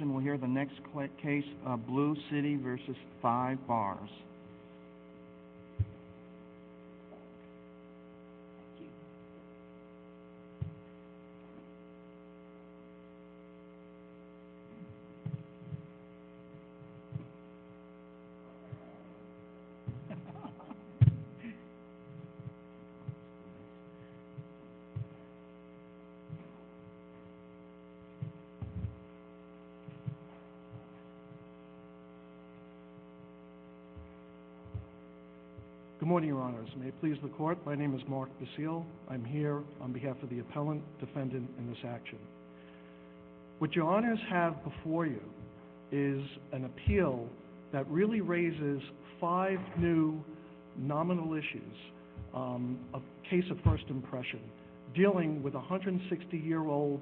We'll hear the next case, Blue Citi v. 5Barz. Good morning, Your Honors. May it please the Court, my name is Mark Basile. I'm here on behalf of the appellant, defendant, and this action. What Your Honors have before you is an appeal that really raises five new nominal issues, a case of first impression, dealing with a 160-year-old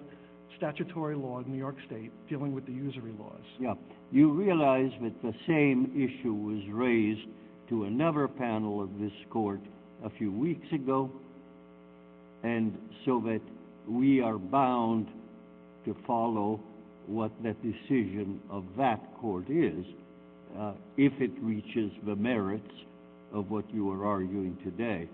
statutory law in New York State dealing with the usury laws. You realize that the same issue was raised to another panel of this Court a few weeks ago, and so that we are bound to follow what the decision of that Court is, if it reaches the merits of what you are arguing today.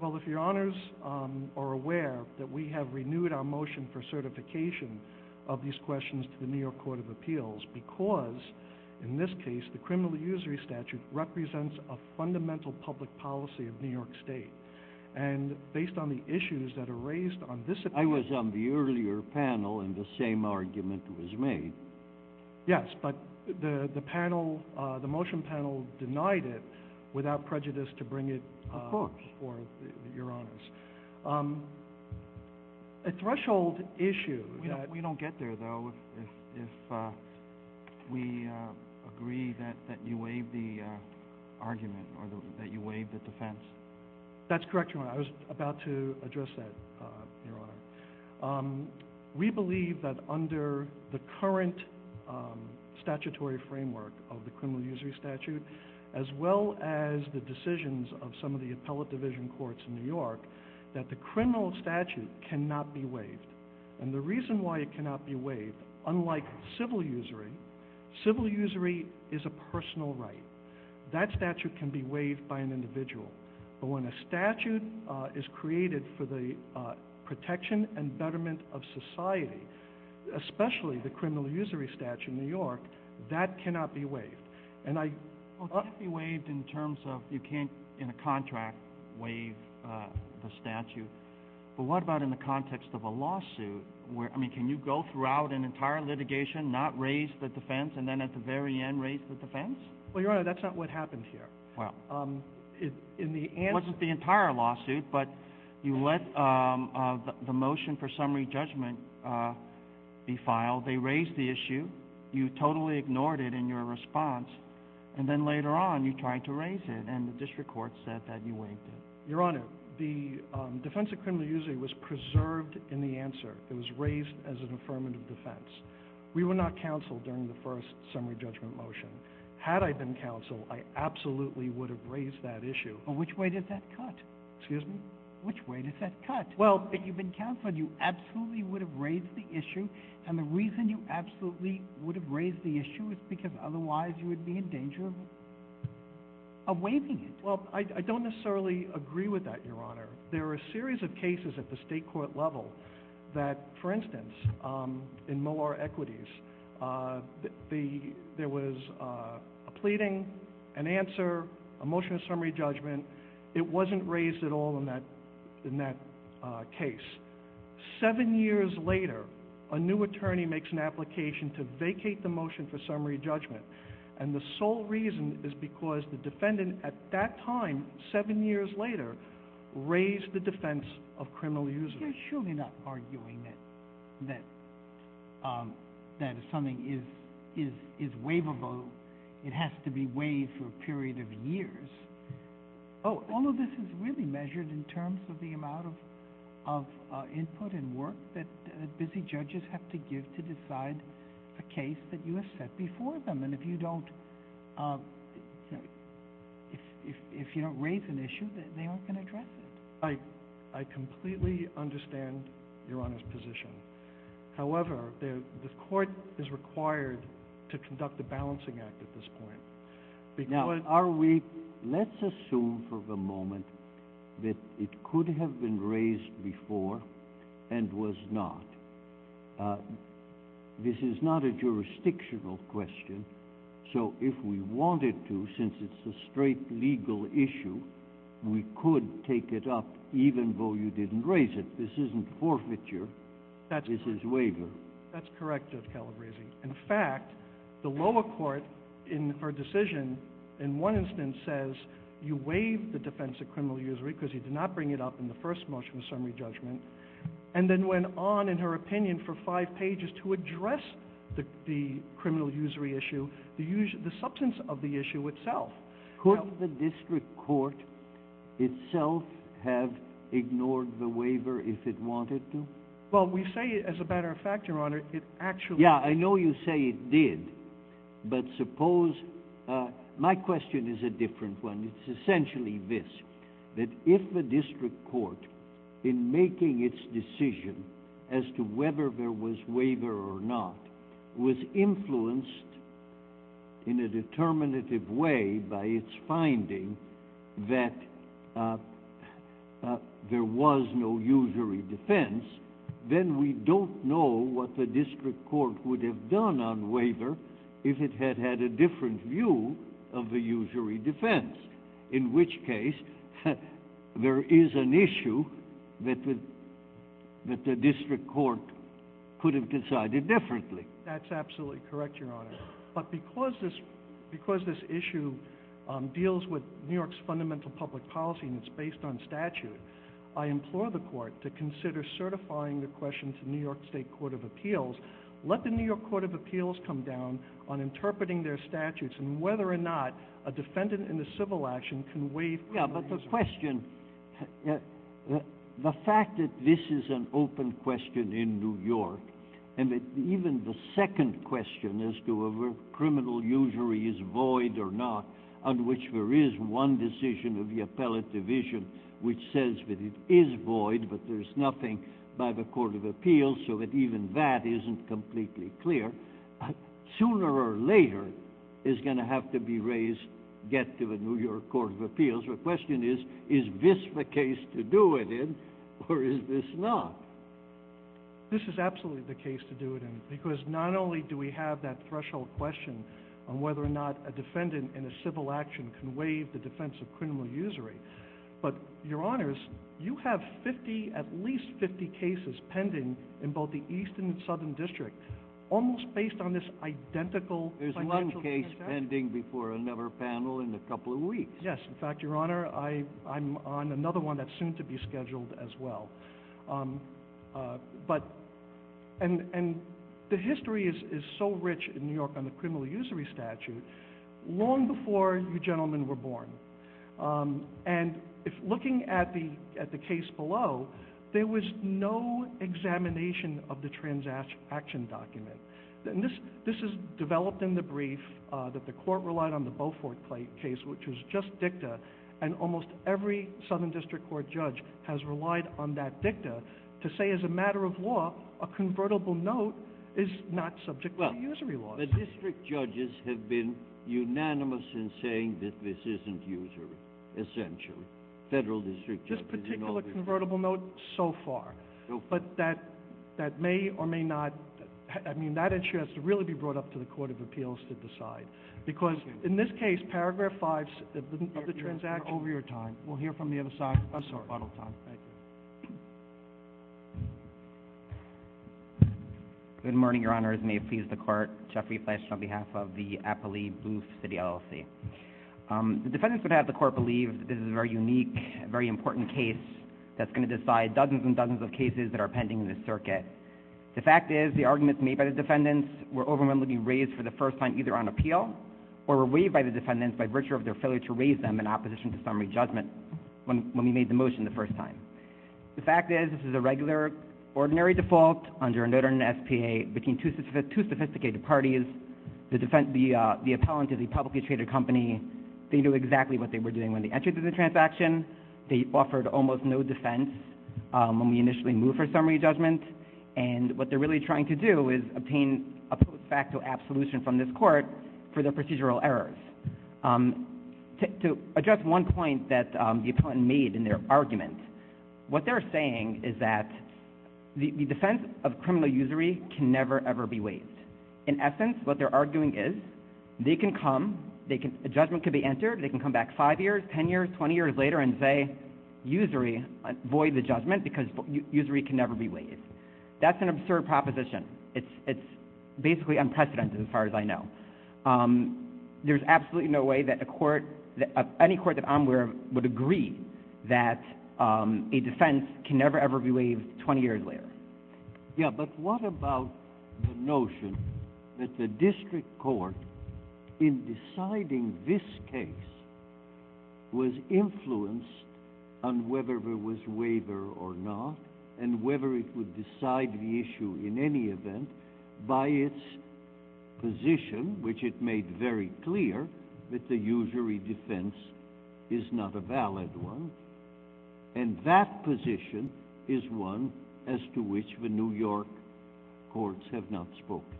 Well, if Your Honors are aware that we have renewed our motion for certification of these questions to the New York Court of Appeals because, in this case, the criminal usury statute represents a fundamental public policy of New York State, and based on the issues that are raised on this occasion... I was on the earlier panel, and the same argument was made. Yes, but the motion panel denied it without prejudice to bring it before Your Honors. A threshold issue... We don't get there, though, if we agree that you waive the argument, or that you waive the defense. That's correct, Your Honor. I was about to address that, Your Honor. We believe that under the current statutory framework of the criminal usury statute, as well as the decisions of some of the appellate division courts in New York, that the criminal statute cannot be waived. And the reason why it cannot be waived, unlike civil usury, civil usury is a personal right. That statute can be waived by an individual, but when a statute is created for the protection and betterment of society, especially the criminal usury statute in New York, that cannot be waived. Well, it can't be waived in terms of you can't, in a contract, waive the statute, but what about in the context of a lawsuit? Can you go throughout an entire litigation, not raise the defense, and then at the very end raise the defense? Well, Your Honor, that's not what happened here. It wasn't the entire lawsuit, but you let the motion for summary judgment be filed, they raised the issue, you totally ignored it in your response, and then later on you tried to raise it, and the district court said that you waived it. Your Honor, the defense of criminal usury was preserved in the answer. It was raised as an affirmative defense. We were not counseled during the first summary judgment motion. Had I been counseled, I absolutely would have raised that issue. Which way does that cut? If you've been counseled, you absolutely would have raised the issue, and the reason you absolutely would have raised the issue is because otherwise you would be in danger of waiving it. Well, I don't necessarily agree with that, Your Honor. There are a series of cases at the state court level that, for instance, in Moore Equities, there was a pleading, an answer, a motion of summary judgment. It wasn't raised at all in that case. Seven years later, a new attorney makes an application to vacate the motion for summary judgment, and the sole reason is because the defendant at that time, seven years later, raised the defense of criminal usury. You're surely not arguing that something is waivable. It has to be waived for a period of years. All of this is really measured in terms of the amount of input and work that busy judges have to give to decide a case that you have set before them, and if you don't raise an issue, they aren't going to address it. I completely understand Your Honor's position. However, the court is required to conduct a balancing act at this point. Let's assume for the moment that it could have been raised before and was not. This is not a jurisdictional question, so if we wanted to, since it's a straight legal issue, we could take it up even though you didn't raise it. This isn't forfeiture. This is waiver. That's correct, Judge Calabresi. In fact, the lower court in her decision, in one instance, says you waive the defense of criminal usury because you did not bring it up in the first motion of summary judgment, and then went on, in her opinion, for five pages to address the criminal usury issue, the substance of the issue itself. Could the district court itself have ignored the waiver if it wanted to? Well, we say, as a matter of fact, Your Honor, it actually... Yeah, I know you say it did, but suppose... My question is a different one. It's essentially this, that if the district court, in making its decision as to whether there was waiver or not, was influenced in a determinative way by its finding that there was no usury defense, then we don't know what the district court would have done on waiver if it had had a different view of the usury defense, in which case there is an issue that the district court could have decided differently. That's absolutely correct, Your Honor. But because this issue deals with New York's fundamental public policy and it's based on statute, I implore the court to consider certifying the question to New York State Court of Appeals. Let the New York Court of Appeals come down on interpreting their statutes and whether or not a defendant in a civil action can waive criminal usury. Yeah, but the question... The fact that this is an open question in New York, and even the second question as to whether criminal usury is void or not, on which there is one decision of the appellate division which says that it is void, but there's nothing by the Court of Appeals, so that even that isn't completely clear, sooner or later is going to have to be raised, get to the New York Court of Appeals. The question is, is this the case to do it in or is this not? This is absolutely the case to do it in, because not only do we have that threshold question on whether or not a defendant in a civil action can waive the defense of criminal usury, but, Your Honors, you have at least 50 cases pending in both the East and the Southern District, almost based on this identical... There's one case pending before another panel in a couple of weeks. Yes, in fact, Your Honor, I'm on another one that's soon to be scheduled as well. The history is so rich in New York on the criminal usury statute, long before you gentlemen were born. And looking at the case below, there was no examination of the transaction document. This is developed in the brief that the Court relied on the Beaufort case, which was just dicta, and almost every Southern District Court judge has relied on that dicta to say, as a matter of law, a convertible note is not subject to usury laws. The District Judges have been unanimous in saying that this isn't usury, essentially. Federal District Judges... This particular convertible note, so far, but that may or may not... I mean, that issue has to really be brought up to the Court of Appeals to decide, because in this case, Paragraph 5 of the transaction... The defendants would have the Court believe that this is a very unique, very important case that's going to decide dozens and dozens of cases that are pending in this circuit. The fact is, the arguments made by the defendants were overwhelmingly raised for the first time either on appeal or were waived by the defendants by virtue of their failure to raise them in opposition to summary judgment when we made the motion the first time. The fact is, this is a regular, ordinary default under a notary and SPA between two sophisticated parties. The appellant is a publicly traded company. They knew exactly what they were doing when they entered into the transaction. They offered almost no defense when we initially moved for summary judgment, and what they're really trying to do is obtain a post facto absolution from this court for their procedural errors. To address one point that the appellant made in their argument, what they're saying is that the defense of criminal usury can never, ever be waived. In essence, what they're arguing is, they can come, a judgment can be entered, they can come back five years, ten years, twenty years later and say, usury, void the judgment because usury can never be waived. That's an absurd proposition. It's basically unprecedented as far as I know. There's absolutely no way that a court, any court that I'm aware of would agree that a defense can never, ever be waived twenty years later. Yeah, but what about the notion that the district court, in deciding this case, was influenced on whether there was waiver or not, and whether it would decide the issue in any event by its position, which it made very clear that the usury defense is not a valid one, and that position is one as to which the New York courts have not spoken.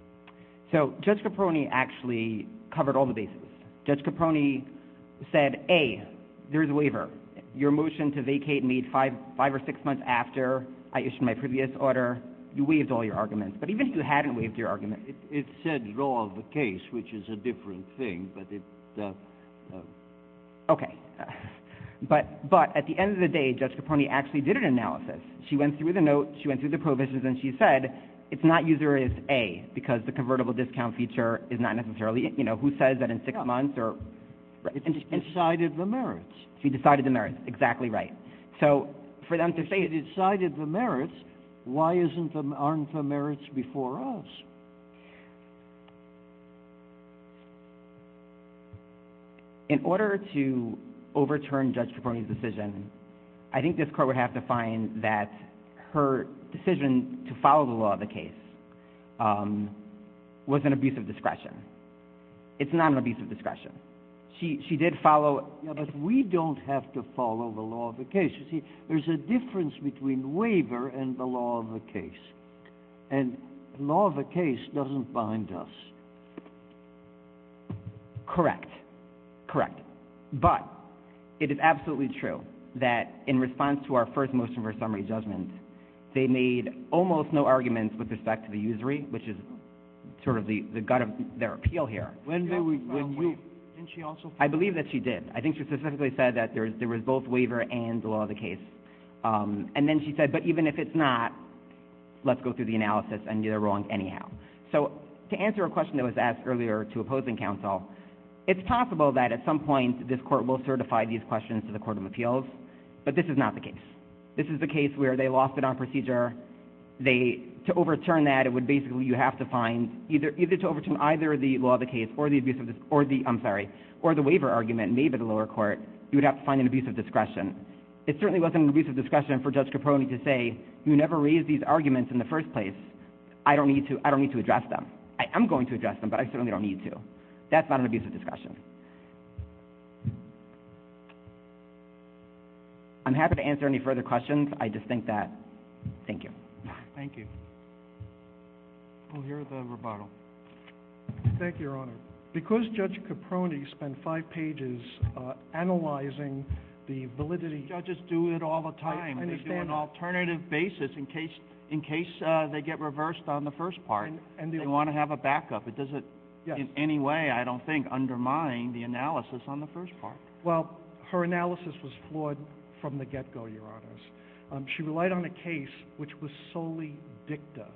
So, Judge Caproni actually covered all the bases. Judge Caproni said, A, there's a waiver. Your motion to vacate made five or six months after I issued my previous order. You waived all your arguments, but even if you hadn't waived your arguments. It said, draw of the case, which is a different thing, but it... Okay, but at the end of the day, Judge Caproni actually did an analysis. She went through the note, she went through the provisions, and she said, it's not usury, it's A, because the convertible discount feature is not necessarily, you know, who says that in six months or... She decided the merits. She decided the merits. Exactly right. So, for them to say... She decided the merits. Why aren't the merits before us? In order to overturn Judge Caproni's decision, I think this court would have to find that her decision to follow the law of the case was an abuse of discretion. It's not an abuse of discretion. She did follow... Yeah, but we don't have to follow the law of the case. You see, there's a difference between waiver and the law of the case, and the law of the case doesn't bind us. Correct. Correct. But it is absolutely true that in response to our first motion for summary judgment, they made almost no arguments with respect to the usury, which is sort of the gut of their appeal here. Didn't she also... I believe that she did. I think she specifically said that there was both waiver and the law of the case. And then she said, but even if it's not, let's go through the analysis and you're wrong anyhow. So, to answer a question that was asked earlier to opposing counsel, it's possible that at some point this court will certify these questions to the Court of Appeals, but this is not the case. This is the case where they lost it on procedure. To overturn that, it would basically... Either to overturn either the law of the case or the waiver argument made by the lower court, you would have to find an abuse of discretion. It certainly wasn't an abuse of discretion for Judge Caprone to say, you never raised these arguments in the first place. I don't need to address them. I am going to address them, but I certainly don't need to. That's not an abuse of discretion. I'm happy to answer any further questions. I just think that... Thank you. Thank you. We'll hear the rebuttal. Thank you, Your Honor. Because Judge Caprone spent five pages analyzing the validity... Judges do it all the time. They do an alternative basis in case they get reversed on the first part. They want to have a backup. It doesn't in any way, I don't think, undermine the analysis on the first part. Well, her analysis was flawed from the get-go, Your Honors. She relied on a case which was solely dicta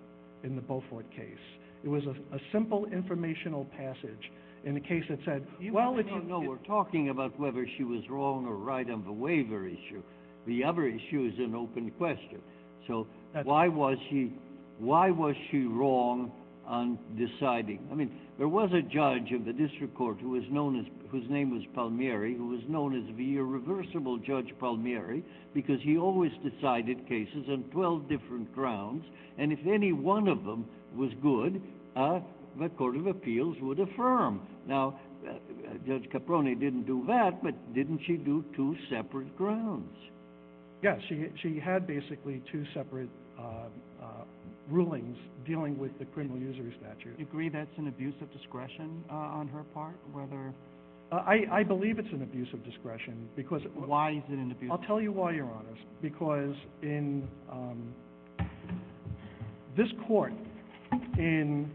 in the Beaufort case. It was a simple informational passage in a case that said... No, no, no. We're talking about whether she was wrong or right on the waiver issue. The other issue is an open question. So why was she wrong on deciding? I mean, there was a judge of the district court whose name was Palmieri, who was known as the irreversible Judge Palmieri because he always decided cases on 12 different grounds, and if any one of them was good, the Court of Appeals would affirm. Now, Judge Caprone didn't do that, but didn't she do two separate grounds? Yes. She had basically two separate rulings dealing with the criminal usury statute. Do you agree that's an abuse of discretion on her part? I believe it's an abuse of discretion because... Why is it an abuse of discretion? I'll tell you why, Your Honors, because in this court in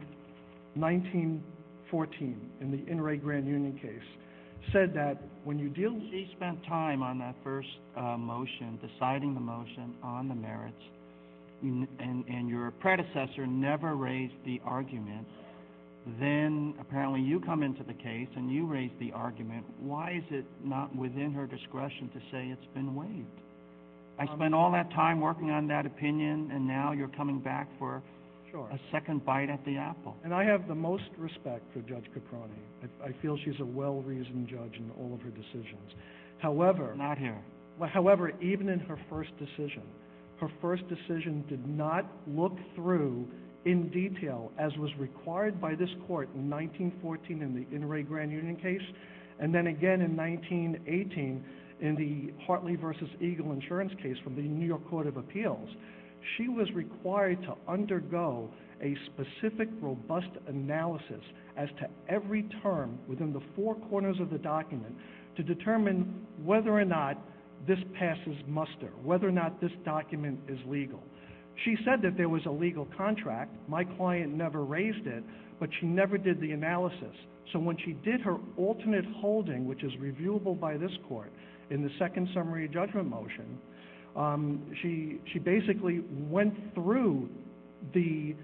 1914, in the Inouye Grand Union case, said that when you deal with... She spent time on that first motion, deciding the motion on the merits, and your predecessor never raised the argument. Then, apparently, you come into the case and you raise the argument. Why is it not within her discretion to say it's been waived? I spent all that time working on that opinion, and now you're coming back for a second bite at the apple. And I have the most respect for Judge Caprone. I feel she's a well-reasoned judge in all of her decisions. However... Not here. However, even in her first decision, her first decision did not look through in detail, as was required by this court in 1914 in the Inouye Grand Union case, and then again in 1918 in the Hartley v. Eagle insurance case from the New York Court of Appeals. She was required to undergo a specific, robust analysis as to every term within the four corners of the document to determine whether or not this passes muster, whether or not this document is legal. She said that there was a legal contract. My client never raised it, but she never did the analysis. So when she did her alternate holding, which is reviewable by this court in the second summary judgment motion, she basically went through the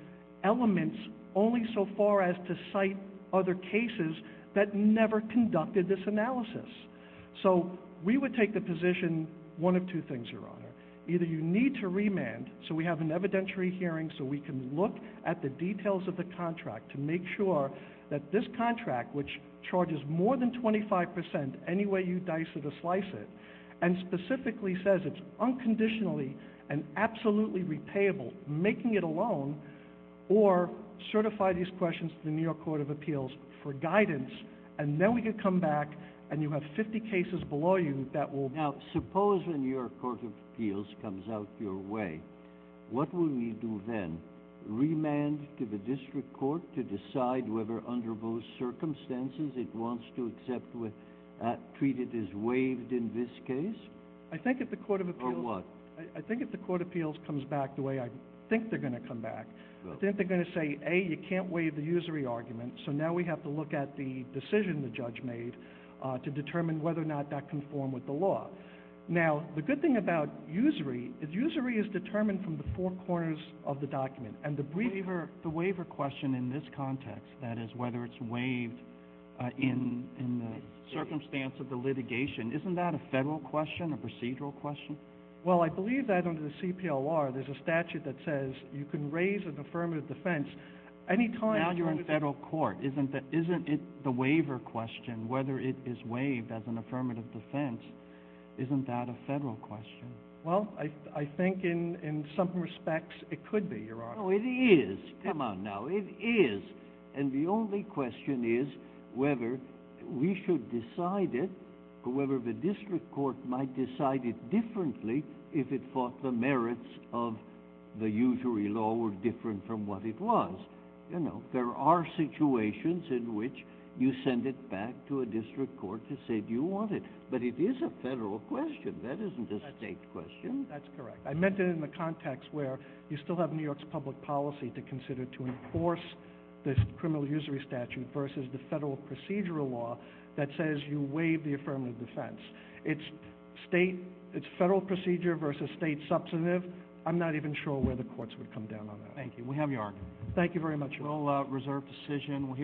elements only so far as to cite other cases that never conducted this analysis. So we would take the position one of two things, Your Honor. Either you need to remand so we have an evidentiary hearing so we can look at the details of the contract to make sure that this contract, which charges more than 25%, any way you dice it or slice it, and specifically says it's unconditionally and absolutely repayable, making it a loan, or certify these questions to the New York Court of Appeals for guidance, and then we can come back and you have 50 cases below you that will... Now, suppose the New York Court of Appeals comes out your way. What will we do then? Remand to the district court to decide whether under those circumstances it wants to treat it as waived in this case? I think if the Court of Appeals... Or what? I think if the Court of Appeals comes back the way I think they're going to come back, I think they're going to say, A, you can't waive the usury argument, so now we have to look at the decision the judge made to determine whether or not that conformed with the law. Now, the good thing about usury is usury is determined from the four corners of the document. The waiver question in this context, that is whether it's waived in the circumstance of the litigation, isn't that a federal question, a procedural question? Well, I believe that under the CPLR there's a statute that says you can raise an affirmative defense any time... Now you're in federal court. Isn't the waiver question, whether it is waived as an affirmative defense, isn't that a federal question? Well, I think in some respects it could be, Your Honor. Oh, it is. Come on now, it is. And the only question is whether we should decide it, or whether the district court might decide it differently if it thought the merits of the usury law were different from what it was. There are situations in which you send it back to a district court to say, Do you want it? But it is a federal question. That isn't a state question. That's correct. I meant it in the context where you still have New York's public policy to consider to enforce this criminal usury statute versus the federal procedural law that says you waive the affirmative defense. It's federal procedure versus state substantive. I'm not even sure where the courts would come down on that. Thank you very much, Your Honor.